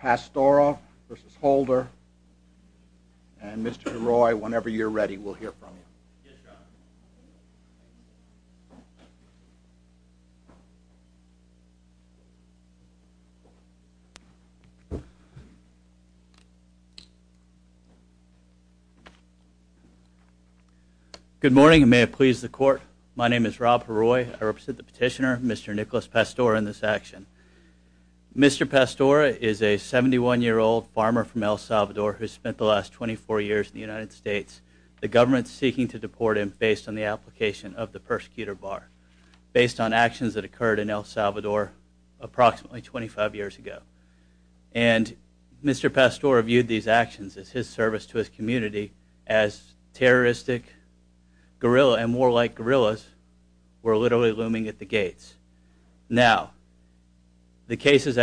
Pastora v. Holder, and Mr. Heroy, whenever you're ready, we'll hear from you. Good morning, and may it please the court. My name is Rob Heroy. I represent the 71-year-old farmer from El Salvador who spent the last 24 years in the United States. The government's seeking to deport him based on the application of the persecutor bar, based on actions that occurred in El Salvador approximately 25 years ago. And Mr. Pastora viewed these actions as his service to his community as terroristic guerrilla, and more like guerrillas, were cases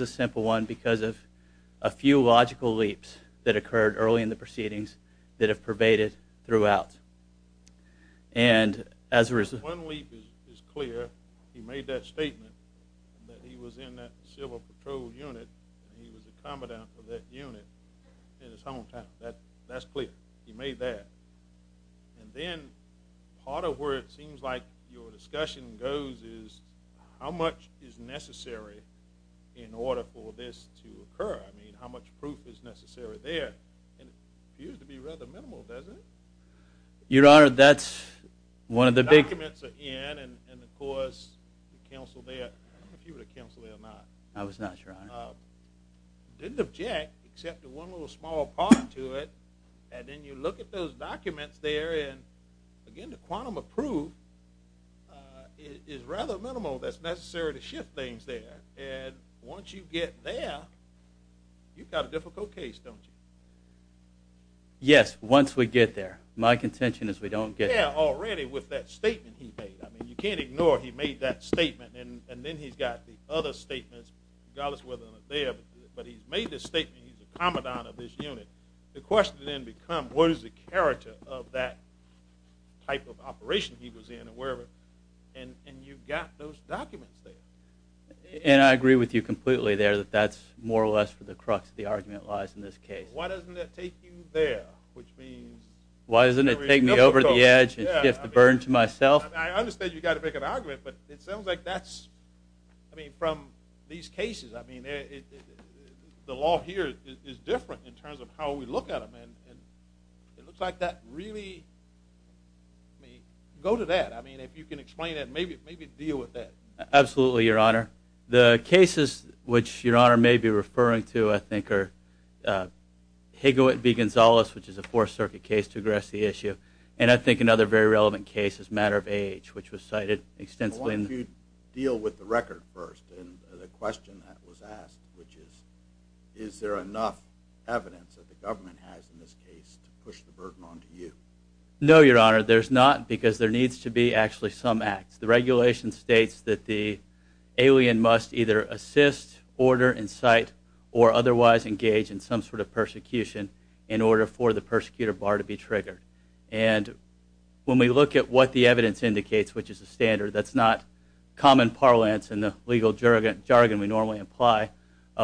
a simple one because of a few logical leaps that occurred early in the proceedings that have pervaded throughout. And as a result... One leap is clear. He made that statement that he was in that civil patrol unit. He was a commandant of that unit in his hometown. That's clear. He made that. And then part of where it in order for this to occur. I mean, how much proof is necessary there? And it appears to be rather minimal, doesn't it? Your Honor, that's one of the big... The documents are in, and of course, counsel there. I don't know if you were the counsel there or not. I was not, Your Honor. Didn't object, except to one little small part to it, and then you look at those documents there, and again, the quantum of proof is rather minimal that's necessary to shift things there, and once you get there, you've got a difficult case, don't you? Yes, once we get there. My contention is we don't get there. Yeah, already with that statement he made. I mean, you can't ignore he made that statement, and then he's got the other statements, regardless whether they're there, but he's made this statement, he's a commandant of this unit. The question then becomes, what is the character of that type of operation he was in, and you've got those documents there. And I agree with you completely there, that that's more or less for the crux of the argument lies in this case. Why doesn't that take you there, which means... Why doesn't it take me over the edge and shift the burden to myself? I understand you've got to make an argument, but it sounds like that's... I mean, from these cases, I mean, the law here is different in terms of how we look at them, and it looks like that really... Go to that. I mean, if you can explain it, maybe deal with that. Absolutely, Your Honor. The cases which Your Honor may be referring to, I think, are Higawitt v. Gonzales, which is a Fourth Circuit case to address the issue, and I think another very relevant case is Matter of Age, which was cited extensively in the... I want you to deal with the record first, and the question that was asked, which is, is there enough evidence that the government has in this case to push the burden onto you? No, Your Honor, there's not, because there needs to be actually some acts. The regulation states that the alien must either assist, order, incite, or otherwise engage in some sort of persecution in order for the persecutor bar to be triggered, and when we look at what the evidence indicates, which is a standard that's not common parlance in the legal jargon we normally apply,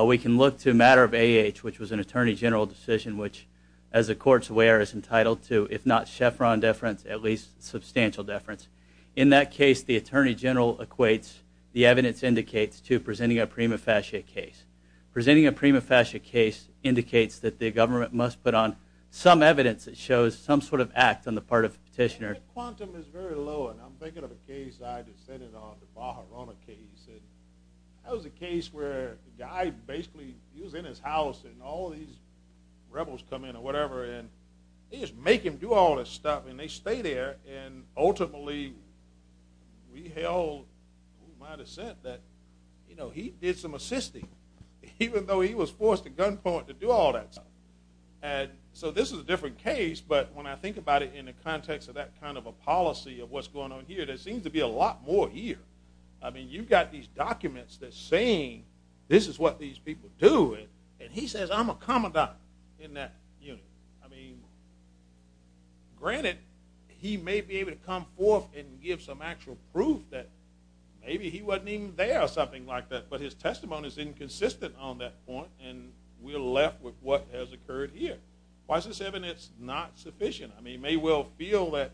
we can look to Matter of Age, which was an Attorney General decision, which, as the Court's aware, is entitled to, if not chevron deference, at least substantial deference. In that case, the Attorney General equates the evidence indicates to presenting a prima facie case. Presenting a prima facie case indicates that the government must put on some evidence that shows some sort of act on the part of the petitioner. That quantum is very low, and I'm thinking of a case I just sent in on, the Bajorana case, and that was a case where the guy basically, he was in his house, and all these rebels come in or whatever, and they just make him do all this stuff, and they stay there, and ultimately, we held my dissent that, you know, he did some assisting, even though he was forced to gunpoint to do all that stuff, and so this is a different case, but when I think about it in the context of that kind of a policy of what's going on here, there seems to be a lot more here. I mean, you've got these documents that's saying this is what these people do, and he says I'm a commandant in that unit. I mean, granted, he may be able to come forth and give some actual proof that maybe he wasn't even there or something like that, but his testimony is inconsistent on that point, and we're left with what has occurred here. Why is this evidence not sufficient? I mean, you may well feel that,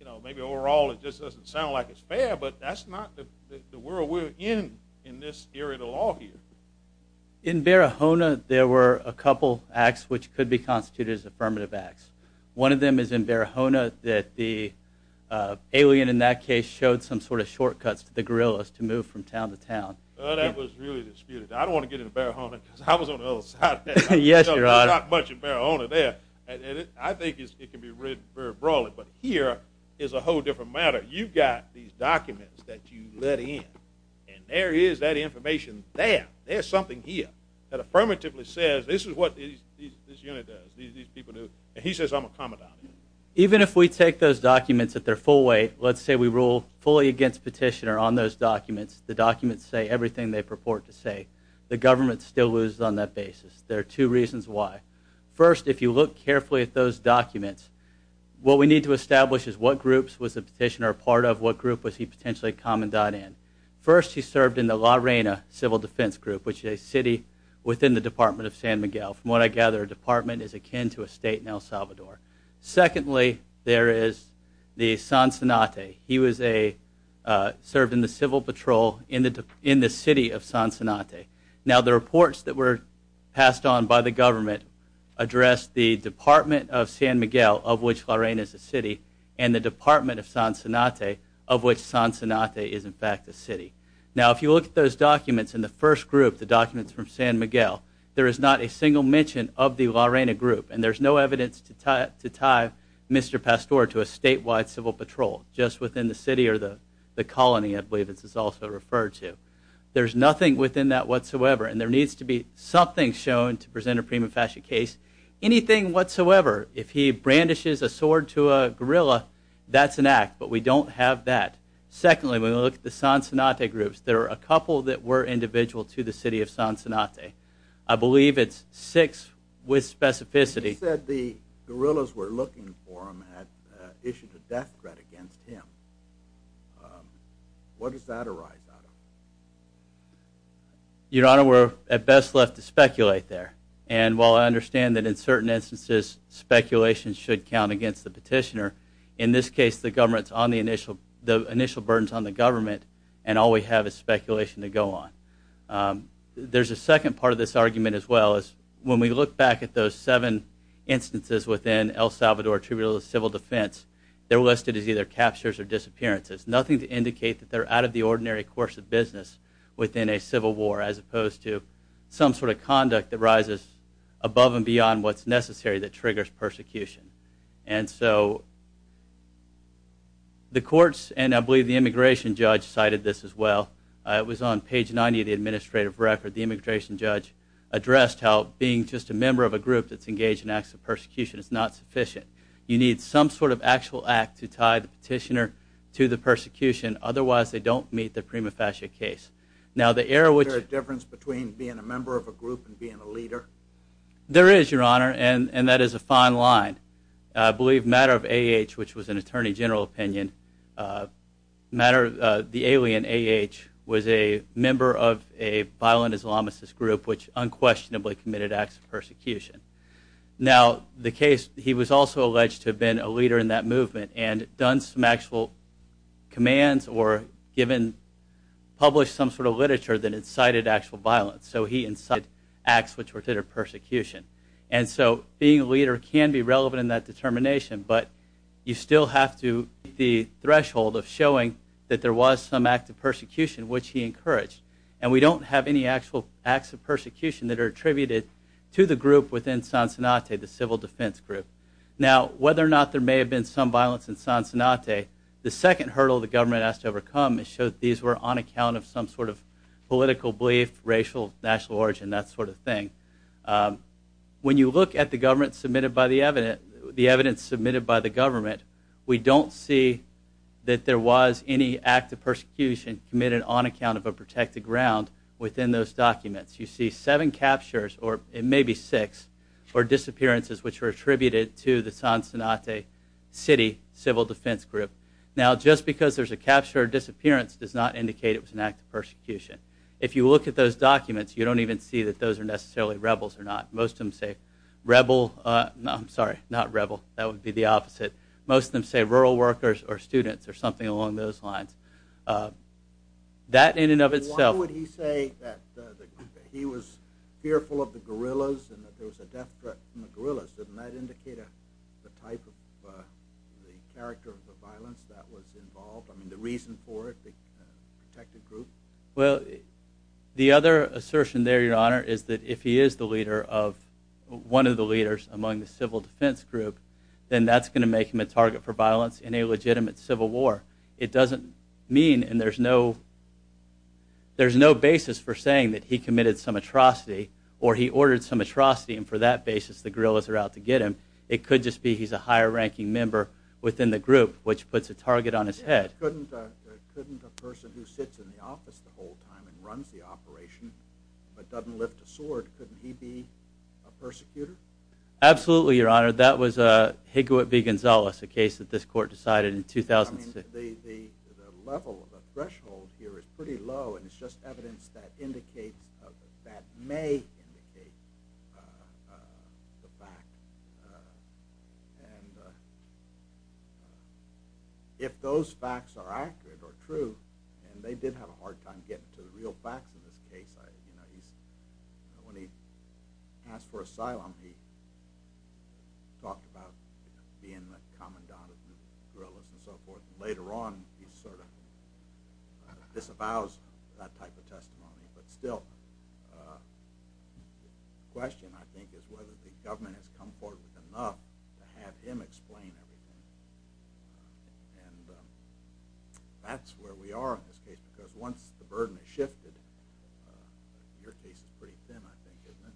you know, maybe overall it just doesn't sound like it's fair, but that's not the world we're in in this area of the law here. In Bajorana, there were a couple acts which could be constituted as affirmative acts. One of them is in Bajorana that the alien in that case showed some sort of shortcuts to the guerrillas to move from town to town. Well, that was really disputed. I don't want to get into Bajorana because I was on the other side of that. There's not much in Bajorana there, and I think it can be read very broadly, but here is a whole different matter. You've got these documents that you let in, and there is that information there. There's something here that affirmatively says this is what this unit does, these people do, and he says I'm a commandant. Even if we take those documents at their full weight, let's say we rule fully against petitioner on those documents, the documents say everything they purport to say, the government still loses on that basis. There are two reasons why. First, if you look carefully at those documents, what we need to establish is what groups was the petitioner a part of, what group was he potentially a commandant in. First, he served in the La Reina Civil Defense Group, which is a city within the Department of San Miguel. From what I gather, a department is akin to a state in El Salvador. Secondly, there is the Sonsanate. He served in the Civil Patrol in the city of Sonsanate. Now, the reports that were passed on by the government addressed the Department of San Miguel, of which La Reina is a city, and the Department of Sonsanate, of which Sonsanate is in fact a city. Now, if you look at those documents in the first group, the documents from San Miguel, there is not a single mention of the La Reina group, and there's no evidence to tie Mr. Pastor to a statewide civil patrol just within the city or the colony, I believe this is also referred to. There's nothing within that whatsoever, and there needs to be something shown to present a prima facie case, anything whatsoever. If he brandishes a sword to a guerrilla, that's an act, but we don't have that. Secondly, when we look at the Sonsanate groups, there are a couple that were individual to the city of Sonsanate. I believe it's six with specificity. You said the guerrillas were looking for him and had issued a death threat against him. What does that arise out of? Your Honor, we're at best left to speculate there, and while I understand that in certain instances speculation should count against the petitioner, in this case the initial burden is on the government and all we have is speculation to go on. There's a second part of this argument as well. When we look back at those seven instances within El Salvador Tribunal of Civil Defense, they're listed as either captures or disappearances, nothing to indicate that they're out of the ordinary course of business within a civil war, as opposed to some sort of conduct that rises above and beyond what's necessary that triggers persecution. And so the courts and I believe the immigration judge cited this as well. It was on page 90 of the administrative record. The immigration judge addressed how being just a member of a group that's engaged in acts of persecution is not sufficient. You need some sort of actual act to tie the petitioner to the persecution, otherwise they don't meet the prima facie case. Is there a difference between being a member of a group and being a leader? There is, Your Honor, and that is a fine line. I believe Matter of A.H., which was an attorney general opinion, the alien A.H. was a member of a violent Islamist group which unquestionably committed acts of persecution. Now the case, he was also alleged to have been a leader in that movement and done some actual commands or published some sort of literature that incited actual violence. So he incited acts which were considered persecution. And so being a leader can be relevant in that determination, but you still have to meet the threshold of showing that there was some act of persecution which he encouraged. And we don't have any actual acts of persecution that are attributed to the group within Sonsenate, the civil defense group. Now whether or not there may have been some violence in Sonsenate, the second hurdle the government has to overcome is show that these were on account of some sort of political belief, racial, national origin, that sort of thing. When you look at the evidence submitted by the government, we don't see that there was any act of persecution committed on account of a protected ground within those documents. You see seven captures, or it may be six, or disappearances which were attributed to the Sonsenate city civil defense group. Now just because there's a capture or disappearance does not indicate it was an act of persecution. If you look at those documents, you don't even see that those are necessarily rebels or not. Most of them say rebel, I'm sorry, not rebel, that would be the opposite. Most of them say rural workers or students or something along those lines. That in and of itself- Why would he say that he was fearful of the guerrillas and that there was a death threat from the guerrillas? Doesn't that indicate the type of, the character of the violence that was involved? I mean, the reason for it, the protected group? Well, the other assertion there, your honor, is that if he is the leader of, one of the leaders among the civil defense group, then that's going to make him a target for violence in a legitimate civil war. It doesn't mean, and there's no basis for saying that he committed some atrocity or he ordered some atrocity and for that basis the guerrillas are out to get him. It could just be he's a higher ranking member within the group, which puts a target on his head. Couldn't a person who sits in the office the whole time and runs the operation but doesn't lift a sword, couldn't he be a persecutor? Absolutely, your honor. That was Higawit B. Gonzalez, a case that this court decided in 2006. The level, the threshold here is pretty low and it's just evidence that indicates, that may indicate the fact. And if those facts are accurate or true, and they did have a hard time getting to the real facts in this case. When he asked for asylum, he talked about being the commandant of the guerrillas and so forth. Later on, he sort of disavows that type of testimony. But still, the question I think is whether the government has come forward with enough to have him explain everything. And that's where we are in this case because once the burden has shifted, your case is pretty thin, I think, isn't it?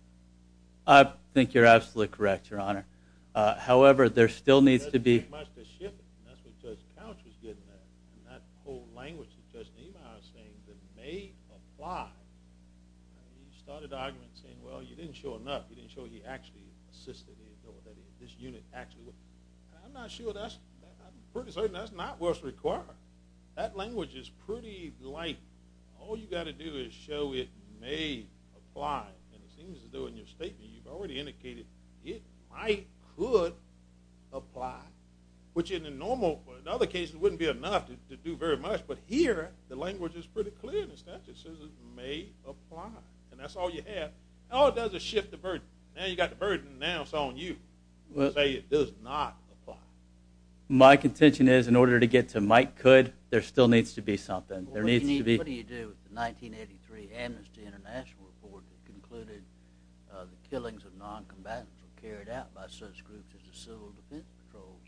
I think you're absolutely correct, your honor. However, there still needs to be... It doesn't take much to shift it. That's what Judge Couch was getting at. And that whole language that Judge Niemeyer was saying that may apply. He started the argument saying, well, you didn't show enough. You didn't show he actually assisted. I'm not sure that's – I'm pretty certain that's not what's required. That language is pretty light. All you've got to do is show it may apply. And it seems as though in your statement you've already indicated it might could apply, which in the normal – in other cases, it wouldn't be enough to do very much. But here, the language is pretty clear in the statute. It says it may apply. And that's all you have. All it does is shift the burden. Now you've got the burden. Now it's on you to say it does not apply. My contention is in order to get to might could, there still needs to be something. There needs to be... What do you do with the 1983 Amnesty International report that concluded the killings of noncombatants were carried out by such groups as the civil defense patrols?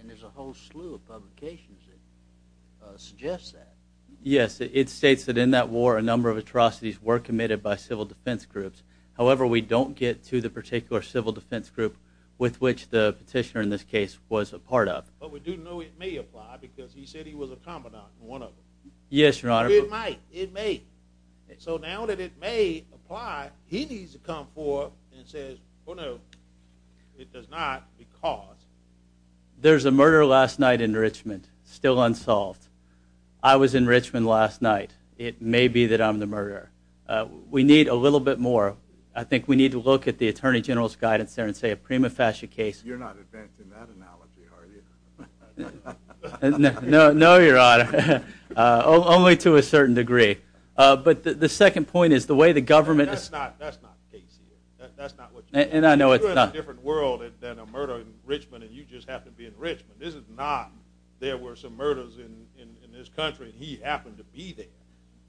And there's a whole slew of publications that suggest that. Yes, it states that in that war a number of atrocities were committed by civil defense groups. However, we don't get to the particular civil defense group with which the petitioner in this case was a part of. But we do know it may apply because he said he was a combatant in one of them. Yes, Your Honor. It might. It may. So now that it may apply, he needs to come forward and say, oh, no, it does not because... There was a murder last night in Richmond. Still unsolved. I was in Richmond last night. It may be that I'm the murderer. We need a little bit more. I think we need to look at the Attorney General's guidance there and say a prima facie case... You're not advancing that analogy, are you? No, Your Honor. Only to a certain degree. But the second point is the way the government... That's not the case here. That's not what you mean. And I know it's not. You're in a different world than a murderer in Richmond, and you just happen to be in Richmond. This is not there were some murders in this country and he happened to be there.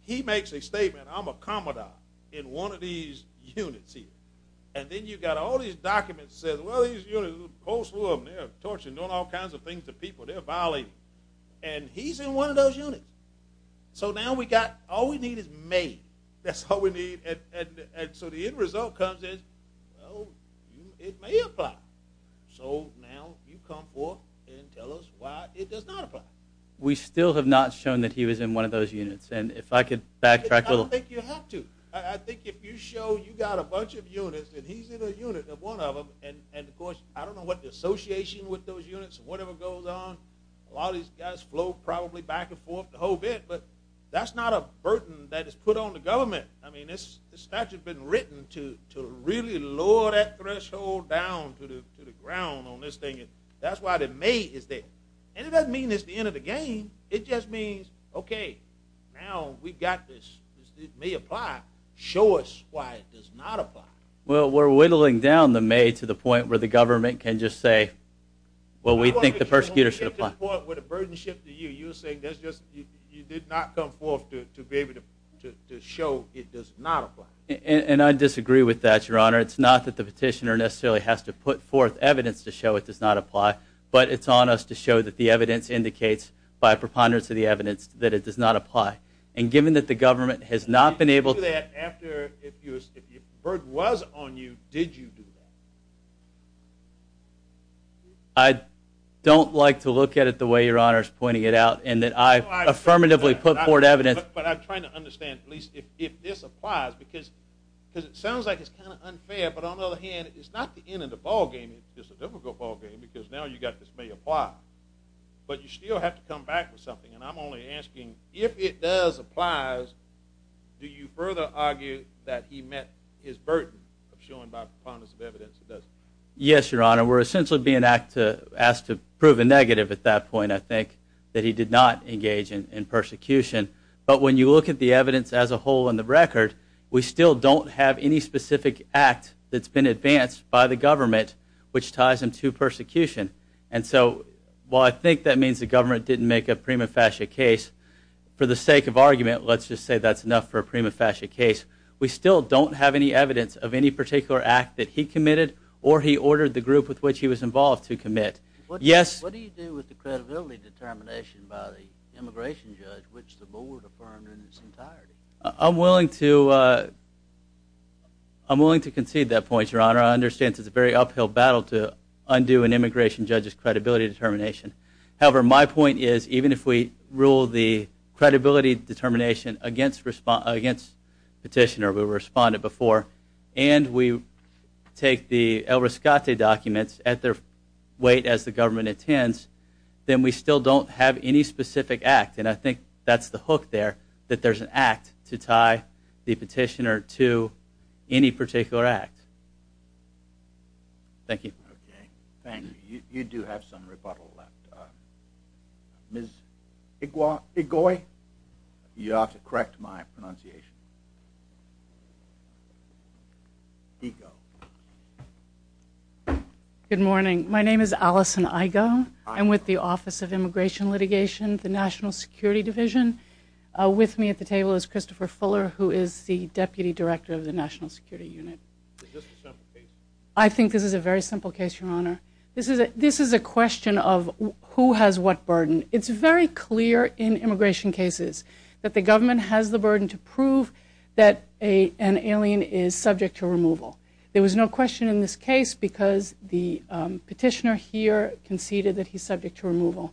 He makes a statement, I'm a commodore in one of these units here. And then you've got all these documents that says, well, these units, a whole slew of them, they're torturing, doing all kinds of things to people. They're violating. And he's in one of those units. So now we've got... All we need is May. That's all we need. And so the end result comes in, oh, it may apply. So now you come forward and tell us why it does not apply. We still have not shown that he was in one of those units. And if I could backtrack a little. I don't think you have to. I think if you show you've got a bunch of units and he's in a unit of one of them, and, of course, I don't know what the association with those units, whatever goes on. A lot of these guys flow probably back and forth the whole bit. But that's not a burden that is put on the government. I mean, this statute has been written to really lower that threshold down to the ground on this thing. That's why the May is there. And it doesn't mean it's the end of the game. It just means, okay, now we've got this. It may apply. Show us why it does not apply. Well, we're whittling down the May to the point where the government can just say, well, we think the prosecutor should apply. When you get to the point where the burden shifts to you, you're saying you did not come forth to be able to show it does not apply. And I disagree with that, Your Honor. It's not that the petitioner necessarily has to put forth evidence to show it does not apply. But it's on us to show that the evidence indicates, by preponderance of the evidence, that it does not apply. And given that the government has not been able to do that after, if the burden was on you, did you do that? I don't like to look at it the way Your Honor is pointing it out and that I affirmatively put forth evidence. But I'm trying to understand, please, if this applies. Because it sounds like it's kind of unfair. But on the other hand, it's not the end of the ballgame. It's a difficult ballgame because now you've got this may apply. But you still have to come back with something. And I'm only asking, if it does apply, do you further argue that he met his burden of showing by preponderance of evidence that it doesn't? Yes, Your Honor. We're essentially being asked to prove a negative at that point, I think, that he did not engage in persecution. But when you look at the evidence as a whole and the record, we still don't have any specific act that's been advanced by the government which ties him to persecution. And so while I think that means the government didn't make a prima facie case, for the sake of argument, let's just say that's enough for a prima facie case. We still don't have any evidence of any particular act that he committed or he ordered the group with which he was involved to commit. What do you do with the credibility determination by the immigration judge which the board affirmed in its entirety? I'm willing to concede that point, Your Honor. I understand it's a very uphill battle to undo an immigration judge's credibility determination. However, my point is even if we rule the credibility determination against Petitioner, we responded before, and we take the El Rescate documents at their weight as the government intends, then we still don't have any specific act. And I think that's the hook there, that there's an act to tie the Petitioner to any particular act. Thank you. Okay. Thank you. You do have some rebuttal left. Ms. Igoi? You ought to correct my pronunciation. Igoi. Good morning. My name is Allison Igoi. I'm with the Office of Immigration Litigation, the National Security Division. With me at the table is Christopher Fuller who is the Deputy Director of the National Security Unit. Is this a simple case? I think this is a very simple case, Your Honor. This is a question of who has what burden. It's very clear in immigration cases that the government has the burden to prove that an alien is subject to removal. There was no question in this case because the Petitioner here conceded The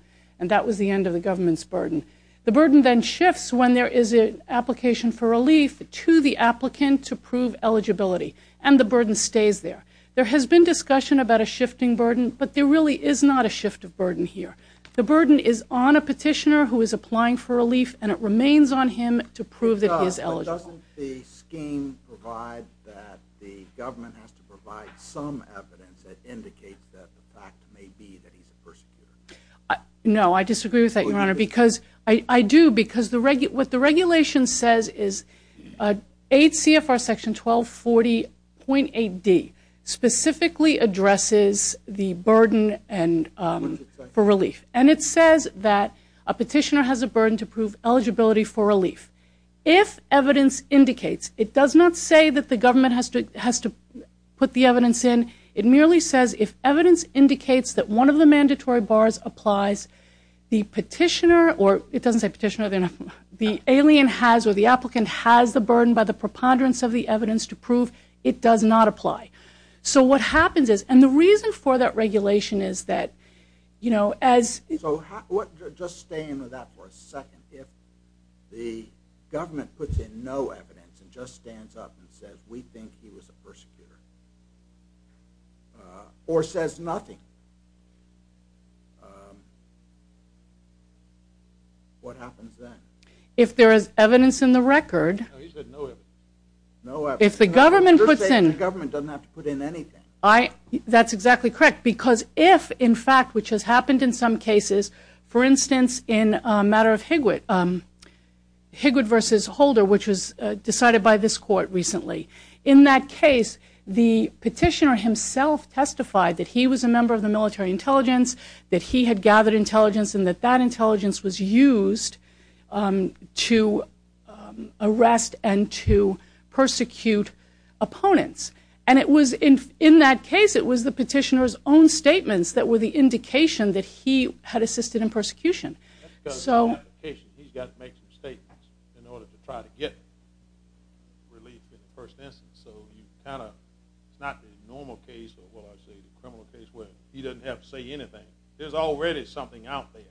burden then shifts when there is an application for relief to the applicant to prove eligibility, and the burden stays there. There has been discussion about a shifting burden, but there really is not a shift of burden here. The burden is on a Petitioner who is applying for relief, and it remains on him to prove that he is eligible. But doesn't the scheme provide that the government has to provide some evidence that indicates that the fact may be that he's a persecutor? No, I disagree with that, Your Honor. I do because what the regulation says is 8 CFR Section 1240.8D specifically addresses the burden for relief, and it says that a Petitioner has a burden to prove eligibility for relief. If evidence indicates, it does not say that the government has to put the evidence in. It merely says if evidence indicates that one of the mandatory bars applies, the Petitioner, or it doesn't say Petitioner, the alien has or the applicant has the burden by the preponderance of the evidence to prove it does not apply. So what happens is, and the reason for that regulation is that, you know, as So just stay into that for a second. If the government puts in no evidence and just stands up and says we think he was a persecutor or says nothing, what happens then? If there is evidence in the record. No, he said no evidence. No evidence. If the government puts in. You're saying the government doesn't have to put in anything. That's exactly correct because if, in fact, which has happened in some cases, for instance, in a matter of Higwood, Higwood v. Holder, which was decided by this Court recently. In that case, the Petitioner himself testified that he was a member of the military intelligence, that he had gathered intelligence, and that that intelligence was used to arrest and to persecute opponents. And it was in that case, it was the Petitioner's own statements that were the indication that he had assisted in persecution. He's got to make some statements in order to try to get relief in the first instance. So you kind of, it's not the normal case or what I would say the criminal case where he doesn't have to say anything. There's already something out there.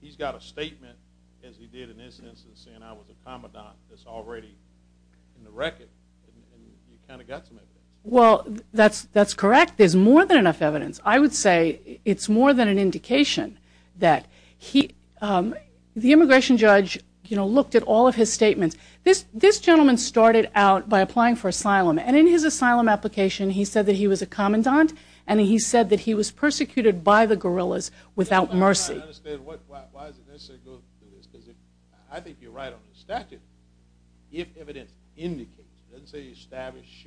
He's got a statement, as he did in this instance, saying I was a commandant that's already in the record. And you kind of got some evidence. Well, that's correct. There's more than enough evidence. I would say it's more than an indication that he, the immigration judge, you know, looked at all of his statements. This gentleman started out by applying for asylum, and in his asylum application he said that he was a commandant and he said that he was persecuted by the guerrillas without mercy. I don't understand. Why is it necessary to go through this? Because I think you're right on the statute. If evidence indicates, doesn't say established,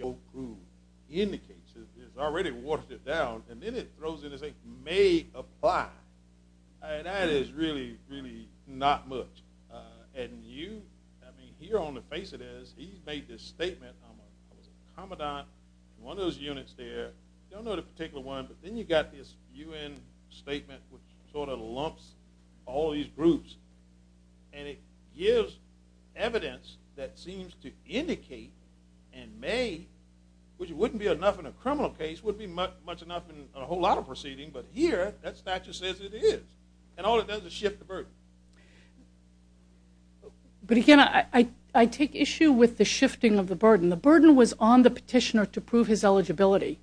indicates that he's already watered it down, and then it throws in to say may apply, that is really, really not much. And you, I mean, here on the face it is, he's made this statement, I was a commandant in one of those units there. You don't know the particular one, but then you've got this U.N. statement which sort of lumps all these groups. And it gives evidence that seems to indicate and may, which wouldn't be enough in a criminal case, wouldn't be much enough in a whole lot of proceedings, but here that statute says it is. And all it does is shift the burden. But again, I take issue with the shifting of the burden. The burden was on the petitioner to prove his eligibility.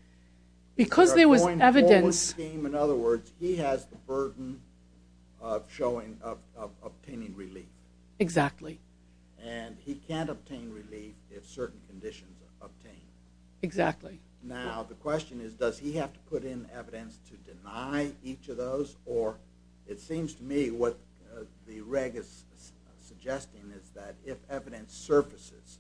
Because there was evidence. In other words, he has the burden of obtaining relief. Exactly. And he can't obtain relief if certain conditions are obtained. Exactly. Now, the question is, does he have to put in evidence to deny each of those? Or it seems to me what the reg is suggesting is that if evidence surfaces,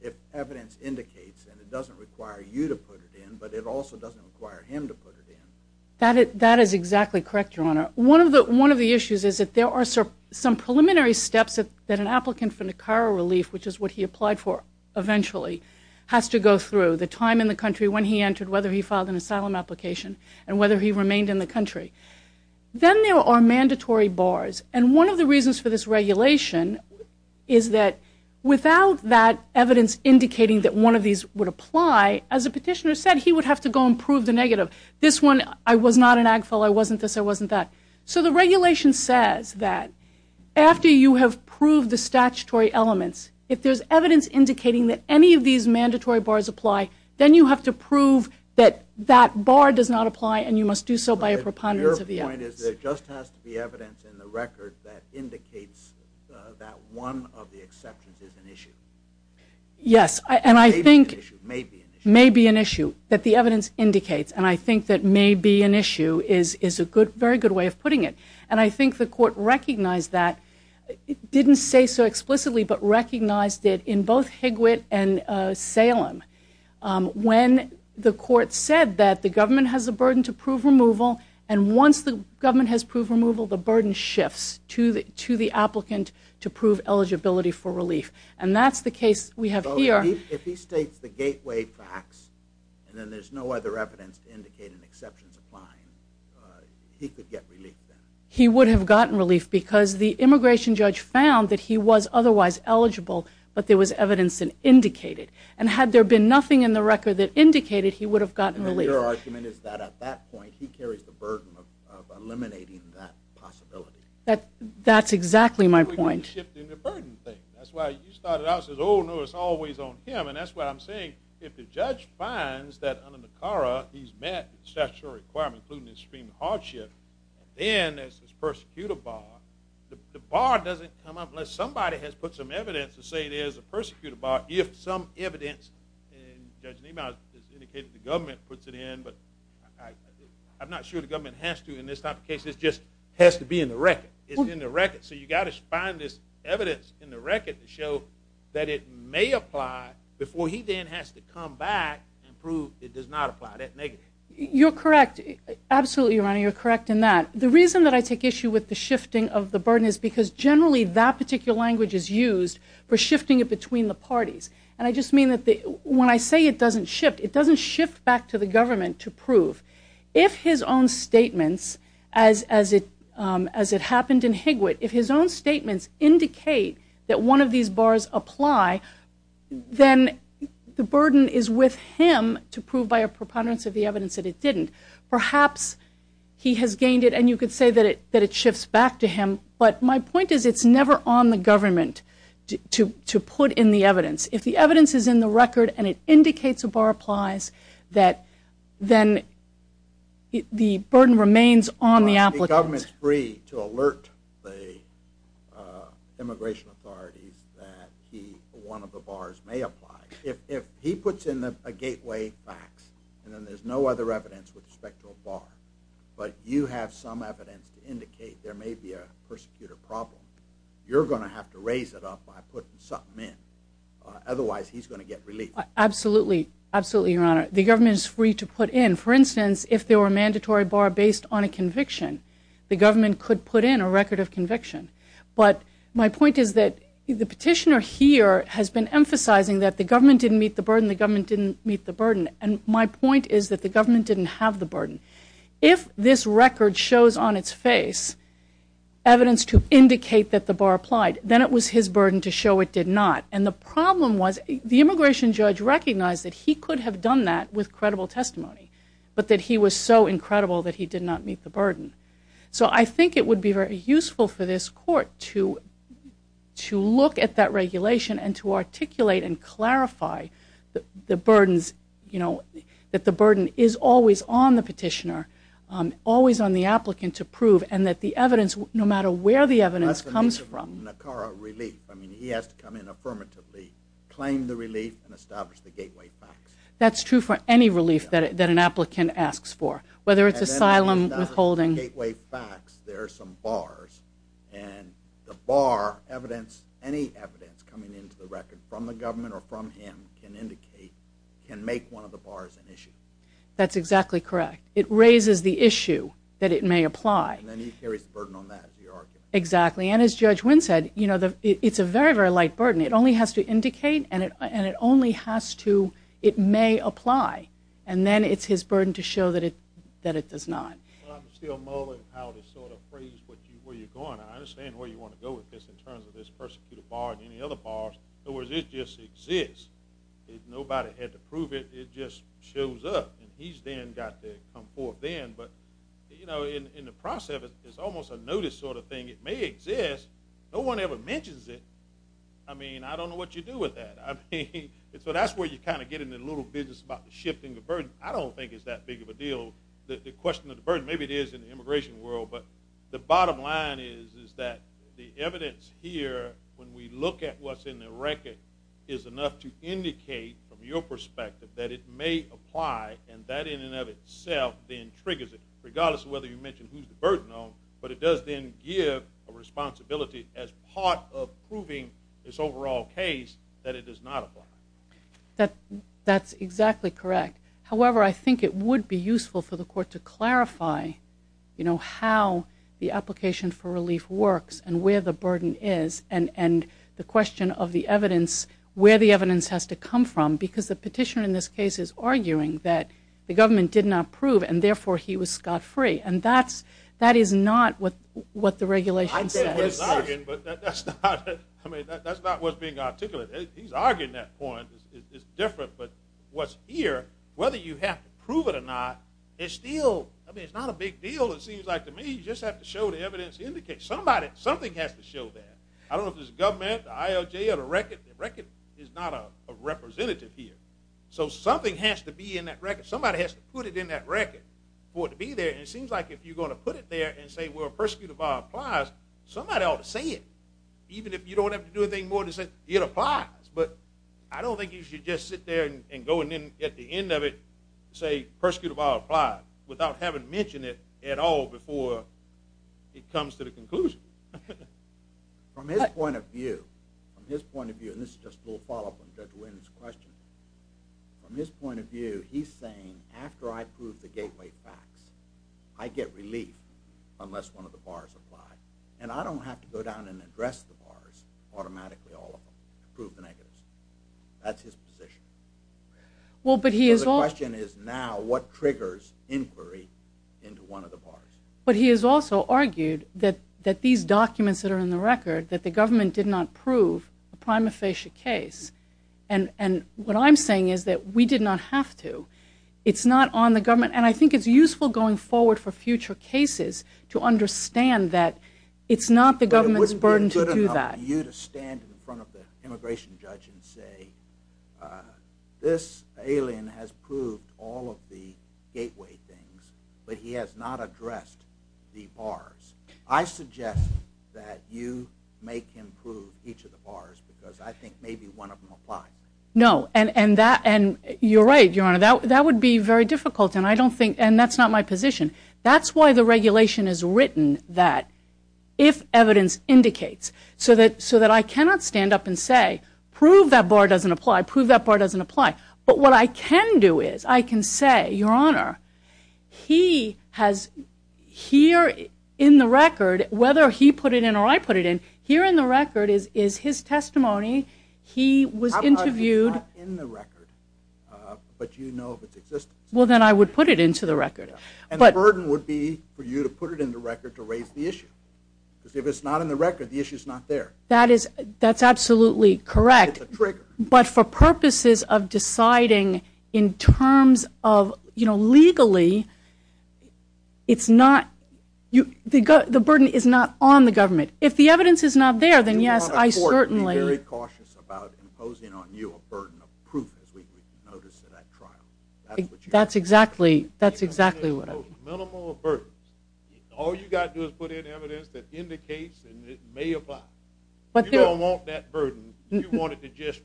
if evidence indicates, and it doesn't require you to put it in, but it also doesn't require him to put it in. That is exactly correct, Your Honor. One of the issues is that there are some preliminary steps that an applicant for Nicara relief, which is what he applied for eventually, has to go through, the time in the country when he entered, whether he filed an asylum application, and whether he remained in the country. Then there are mandatory bars. And one of the reasons for this regulation is that without that evidence indicating that one of these would apply, as the petitioner said, he would have to go and prove the negative. This one, I was not an ag fella, I wasn't this, I wasn't that. So the regulation says that after you have proved the statutory elements, if there's evidence indicating that any of these mandatory bars apply, then you have to prove that that bar does not apply and you must do so by a preponderance of the evidence. Your point is there just has to be evidence in the record that indicates that one of the exceptions is an issue. Yes. May be an issue. May be an issue. May be an issue, that the evidence indicates. And I think that may be an issue is a very good way of putting it. And I think the court recognized that. It didn't say so explicitly, but recognized it in both Higwitt and Salem. When the court said that the government has a burden to prove removal, and once the government has proved removal, the burden shifts to the applicant to prove eligibility for relief. And that's the case we have here. If he states the gateway facts and then there's no other evidence indicating exceptions apply, he could get relief then? He would have gotten relief because the immigration judge found that he was otherwise eligible, but there was evidence to indicate it. And had there been nothing in the record that indicated, he would have gotten relief. And your argument is that at that point, he carries the burden of eliminating that possibility. That's exactly my point. That's why you started out and said, oh, no, it's always on him. And that's what I'm saying. If the judge finds that under NACARA, he's met the statutory requirement including extreme hardship, and then there's this persecutor bar, the bar doesn't come up unless somebody has put some evidence to say there's a persecutor bar if some evidence, and Judge Niemeyer has indicated the government puts it in, but I'm not sure the government has to in this type of case. It just has to be in the record. It's in the record. So you've got to find this evidence in the record to show that it may apply before he then has to come back and prove it does not apply, that negative. You're correct. Absolutely, Your Honor, you're correct in that. The reason that I take issue with the shifting of the burden is because, generally, that particular language is used for shifting it between the parties. And I just mean that when I say it doesn't shift, it doesn't shift back to the government to prove. If his own statements, as it happened in Higwood, if his own statements indicate that one of these bars apply, then the burden is with him to prove by a preponderance of the evidence that it didn't. Perhaps he has gained it and you could say that it shifts back to him, but my point is it's never on the government to put in the evidence. If the evidence is in the record and it indicates a bar applies, then the burden remains on the applicant. The government is free to alert the immigration authorities that one of the bars may apply. If he puts in a gateway fax and then there's no other evidence with respect to a bar, but you have some evidence to indicate there may be a persecutor problem, you're going to have to raise it up by putting something in. Otherwise, he's going to get relief. Absolutely, absolutely, Your Honor. The government is free to put in. For instance, if there were a mandatory bar based on a conviction, the government could put in a record of conviction. But my point is that the petitioner here has been emphasizing that the government didn't meet the burden, the government didn't meet the burden, and my point is that the government didn't have the burden. If this record shows on its face evidence to indicate that the bar applied, then it was his burden to show it did not. And the problem was the immigration judge recognized that he could have done that with credible testimony, but that he was so incredible that he did not meet the burden. So I think it would be very useful for this court to look at that regulation and to articulate and clarify that the burden is always on the petitioner, always on the applicant to prove, and that the evidence, no matter where the evidence comes from. I mean, he has to come in affirmatively, claim the relief, and establish the gateway facts. That's true for any relief that an applicant asks for, whether it's asylum, withholding. Gateway facts, there are some bars, and the bar evidence, any evidence coming into the record from the government or from him can indicate, can make one of the bars an issue. That's exactly correct. It raises the issue that it may apply. And then he carries the burden on that, as you argue. Exactly. And as Judge Wynn said, it's a very, very light burden. It only has to indicate, and it only has to, it may apply. And then it's his burden to show that it does not. Well, I'm still mulling how to sort of phrase where you're going. I understand where you want to go with this in terms of this persecuted bar and any other bars. In other words, it just exists. Nobody had to prove it. It just shows up, and he's then got to come forth then. But, you know, in the process, it's almost a notice sort of thing. It may exist. No one ever mentions it. I mean, I don't know what you do with that. I mean, so that's where you kind of get into the little business about shifting the burden. I don't think it's that big of a deal, the question of the burden. Maybe it is in the immigration world. But the bottom line is that the evidence here, when we look at what's in the record, is enough to indicate from your perspective that it may apply, and that in and of itself then triggers it, regardless of whether you mention who's the burden on, but it does then give a responsibility as part of proving this overall case that it does not apply. That's exactly correct. However, I think it would be useful for the court to clarify, you know, how the application for relief works and where the burden is and the question of the evidence, where the evidence has to come from, because the petitioner in this case is arguing that the government did not prove and therefore he was scot-free. And that is not what the regulation says. I get what he's arguing, but that's not what's being articulated. He's arguing that point. It's different. But what's here, whether you have to prove it or not, it's still, I mean, it's not a big deal, it seems like to me. You just have to show the evidence to indicate. Somebody, something has to show that. I don't know if it's the government, the ILJ, or the record. There's not a representative here. So something has to be in that record. Somebody has to put it in that record for it to be there, and it seems like if you're going to put it there and say, well, persecutor bar applies, somebody ought to say it. Even if you don't have to do anything more to say it applies. But I don't think you should just sit there and go and then at the end of it say persecutor bar applies without having mentioned it at all before it comes to the conclusion. From his point of view, and this is just a little follow-up on Judge Wynn's question, from his point of view, he's saying after I prove the gateway facts, I get relief unless one of the bars apply. And I don't have to go down and address the bars automatically, all of them, to prove the negatives. That's his position. So the question is now what triggers inquiry into one of the bars? But he has also argued that these documents that are in the record, that the government did not prove a prima facie case, and what I'm saying is that we did not have to. It's not on the government, and I think it's useful going forward for future cases to understand that it's not the government's burden to do that. But it wouldn't be good enough for you to stand in front of the immigration judge and say this alien has proved all of the gateway things, but he has not addressed the bars. I suggest that you make him prove each of the bars because I think maybe one of them applies. No, and you're right, Your Honor, that would be very difficult, and that's not my position. That's why the regulation is written that if evidence indicates, so that I cannot stand up and say prove that bar doesn't apply, prove that bar doesn't apply. But what I can do is I can say, Your Honor, he has here in the record, whether he put it in or I put it in, here in the record is his testimony. He was interviewed. How about if it's not in the record, but you know of its existence? Well, then I would put it into the record. And the burden would be for you to put it in the record to raise the issue because if it's not in the record, the issue's not there. That's absolutely correct. It's a trigger. But for purposes of deciding in terms of, you know, legally, it's not the burden is not on the government. If the evidence is not there, then yes, I certainly. The court would be very cautious about imposing on you a burden of proof as we notice in that trial. That's exactly what I mean. Minimal of burdens. All you've got to do is put in evidence that indicates and it may apply. If you don't want that burden, you want it to just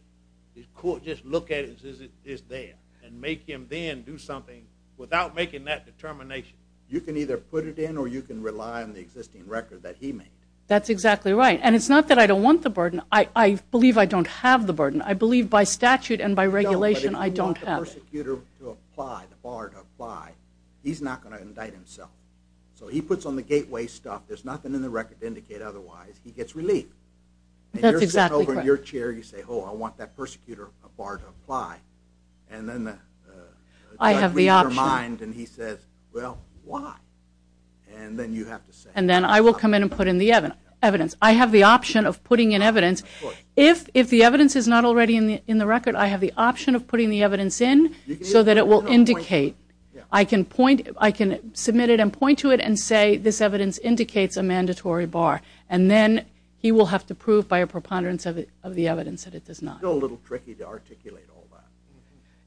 look at it as it is there and make him then do something without making that determination. You can either put it in or you can rely on the existing record that he made. That's exactly right. And it's not that I don't want the burden. I believe I don't have the burden. I believe by statute and by regulation I don't have it. No, but if you want the prosecutor to apply, the bar to apply, he's not going to indict himself. So he puts on the gateway stuff. There's nothing in the record to indicate otherwise. He gets relief. That's exactly correct. And you're sitting over in your chair. You say, oh, I want that prosecutor bar to apply. And then the judge reads your mind and he says, well, why? And then you have to say. And then I will come in and put in the evidence. I have the option of putting in evidence. If the evidence is not already in the record, I have the option of putting the evidence in so that it will indicate. I can submit it and point to it and say this evidence indicates a mandatory bar. And then he will have to prove by a preponderance of the evidence that it does not. Isn't it a little tricky to articulate all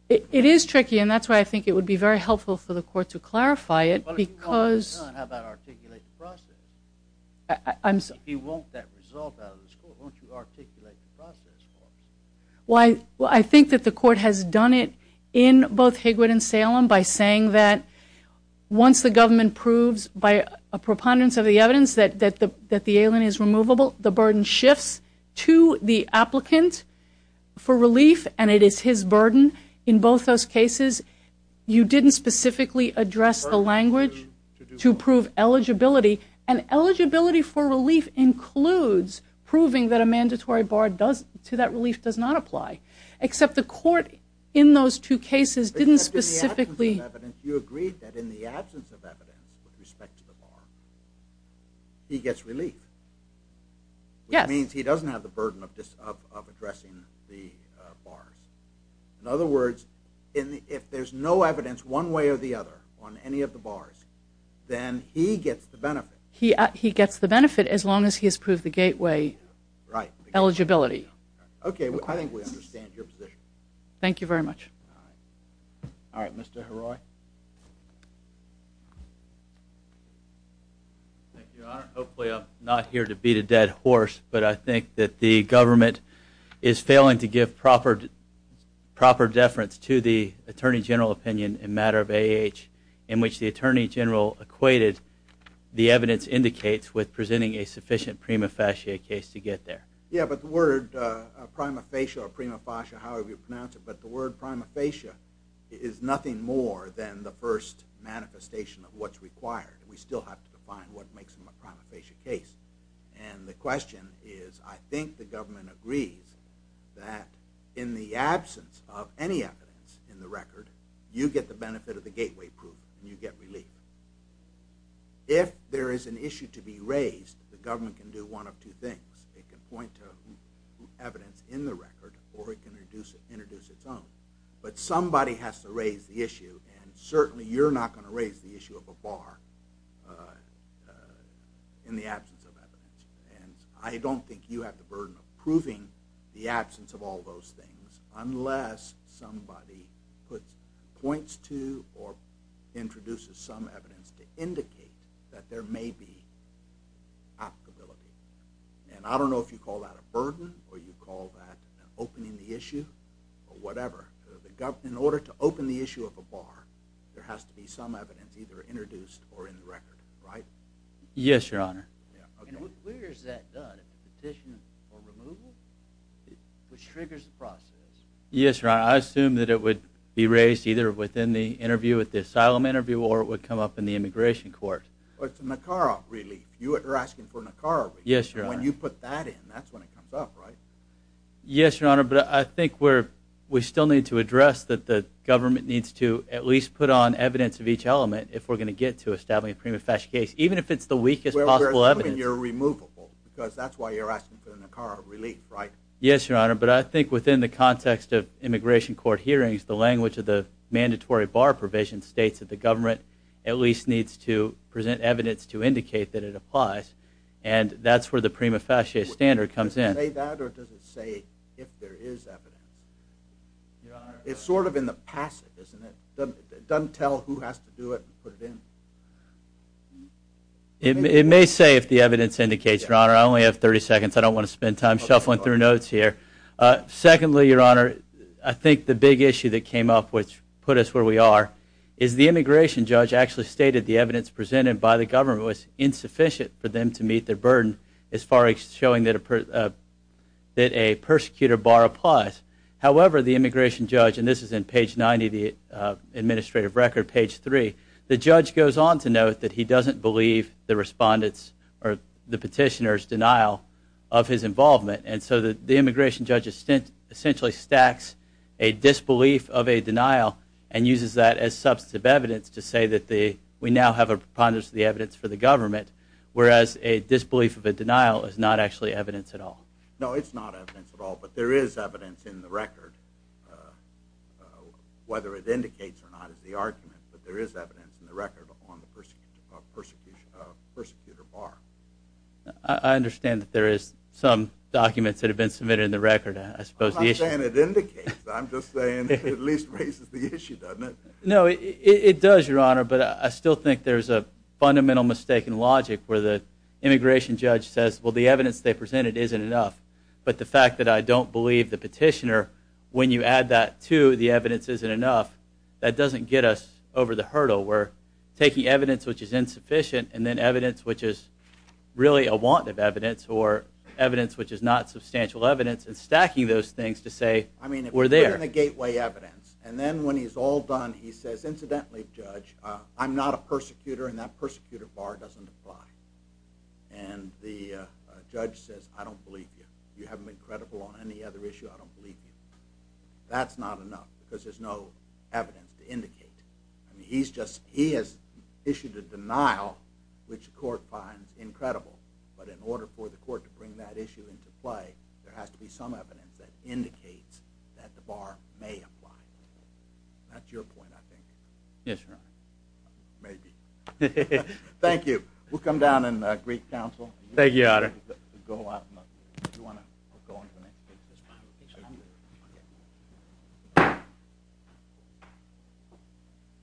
that? It is tricky, and that's why I think it would be very helpful for the court to clarify it. Well, if you want it done, how about articulate the process? If you want that result out of this court, won't you articulate the process for it? Well, I think that the court has done it in both Higwood and Salem by saying that once the government proves by a preponderance of the evidence that the alien is removable, the burden shifts to the applicant for relief, and it is his burden in both those cases. You didn't specifically address the language to prove eligibility. And eligibility for relief includes proving that a mandatory bar to that relief does not apply, except the court in those two cases didn't specifically. You agreed that in the absence of evidence with respect to the bar, he gets relief. Yes. Which means he doesn't have the burden of addressing the bars. In other words, if there's no evidence one way or the other on any of the bars, then he gets the benefit. He gets the benefit as long as he has proved the gateway eligibility. Okay, I think we understand your position. Thank you very much. All right, Mr. Heroy. Thank you, Your Honor. Hopefully I'm not here to beat a dead horse, but I think that the government is failing to give proper deference to the Attorney General opinion in matter of AAH in which the Attorney General equated the evidence indicates with presenting a sufficient prima facie case to get there. Yeah, but the word prima facie or prima facie, however you pronounce it, but the word prima facie is nothing more than the first manifestation of what's required. We still have to define what makes them a prima facie case. And the question is I think the government agrees that in the absence of any evidence in the record, you get the benefit of the gateway proof and you get relief. If there is an issue to be raised, the government can do one of two things. It can point to evidence in the record or it can introduce its own. But somebody has to raise the issue, and certainly you're not going to raise the issue of a bar in the absence of evidence. And I don't think you have the burden of proving the absence of all those things unless somebody points to or introduces some evidence to indicate that there may be applicability. And I don't know if you call that a burden or you call that opening the issue or whatever. In order to open the issue of a bar, there has to be some evidence either introduced or in the record, right? Yes, Your Honor. And where is that done, a petition for removal, which triggers the process? Yes, Your Honor. I assume that it would be raised either within the interview at the asylum interview or it would come up in the immigration court. Or it's a NACARA relief. You're asking for NACARA relief. Yes, Your Honor. When you put that in, that's when it comes up, right? Yes, Your Honor, but I think we still need to address that the government needs to at least put on evidence of each element if we're going to get to establishing a prima facie case, even if it's the weakest possible evidence. Well, assuming you're removable, because that's why you're asking for the NACARA relief, right? Yes, Your Honor, but I think within the context of immigration court hearings, the language of the mandatory bar provision states that the government at least needs to present evidence to indicate that it applies, and that's where the prima facie standard comes in. Does it say that or does it say if there is evidence? It's sort of in the passive, isn't it? It doesn't tell who has to do it and put it in? It may say if the evidence indicates, Your Honor. I only have 30 seconds. I don't want to spend time shuffling through notes here. Secondly, Your Honor, I think the big issue that came up, which put us where we are, is the immigration judge actually stated the evidence presented by the government was insufficient for them to meet their burden as far as showing that a persecutor bar applies. However, the immigration judge, and this is in page 90 of the administrative record, page 3, the judge goes on to note that he doesn't believe the petitioner's denial of his involvement, and so the immigration judge essentially stacks a disbelief of a denial and uses that as substantive evidence to say that we now have a preponderance of the evidence for the government, whereas a disbelief of a denial is not actually evidence at all. No, it's not evidence at all, but there is evidence in the record. Whether it indicates or not is the argument, but there is evidence in the record on the persecutor bar. I understand that there is some documents that have been submitted in the record, I suppose. I'm not saying it indicates, I'm just saying it at least raises the issue, doesn't it? No, it does, Your Honor, but I still think there's a fundamental mistake in logic where the immigration judge says, well, the evidence they presented isn't enough, but the fact that I don't believe the petitioner, when you add that to the evidence isn't enough, that doesn't get us over the hurdle where taking evidence which is insufficient and then evidence which is really a want of evidence or evidence which is not substantial evidence and stacking those things to say we're there. I mean, if you put in a gateway evidence and then when he's all done he says, incidentally, Judge, I'm not a persecutor and that persecutor bar doesn't apply. And the judge says, I don't believe you. You haven't been credible on any other issue, I don't believe you. That's not enough because there's no evidence to indicate. He has issued a denial which the court finds incredible, but in order for the court to bring that issue into play, there has to be some evidence that indicates that the bar may apply. That's your point, I think. Yes, Your Honor. Maybe. Thank you. We'll come down and greet counsel. Thank you, Your Honor. Do you want to go on to the next? Yes, Your Honor.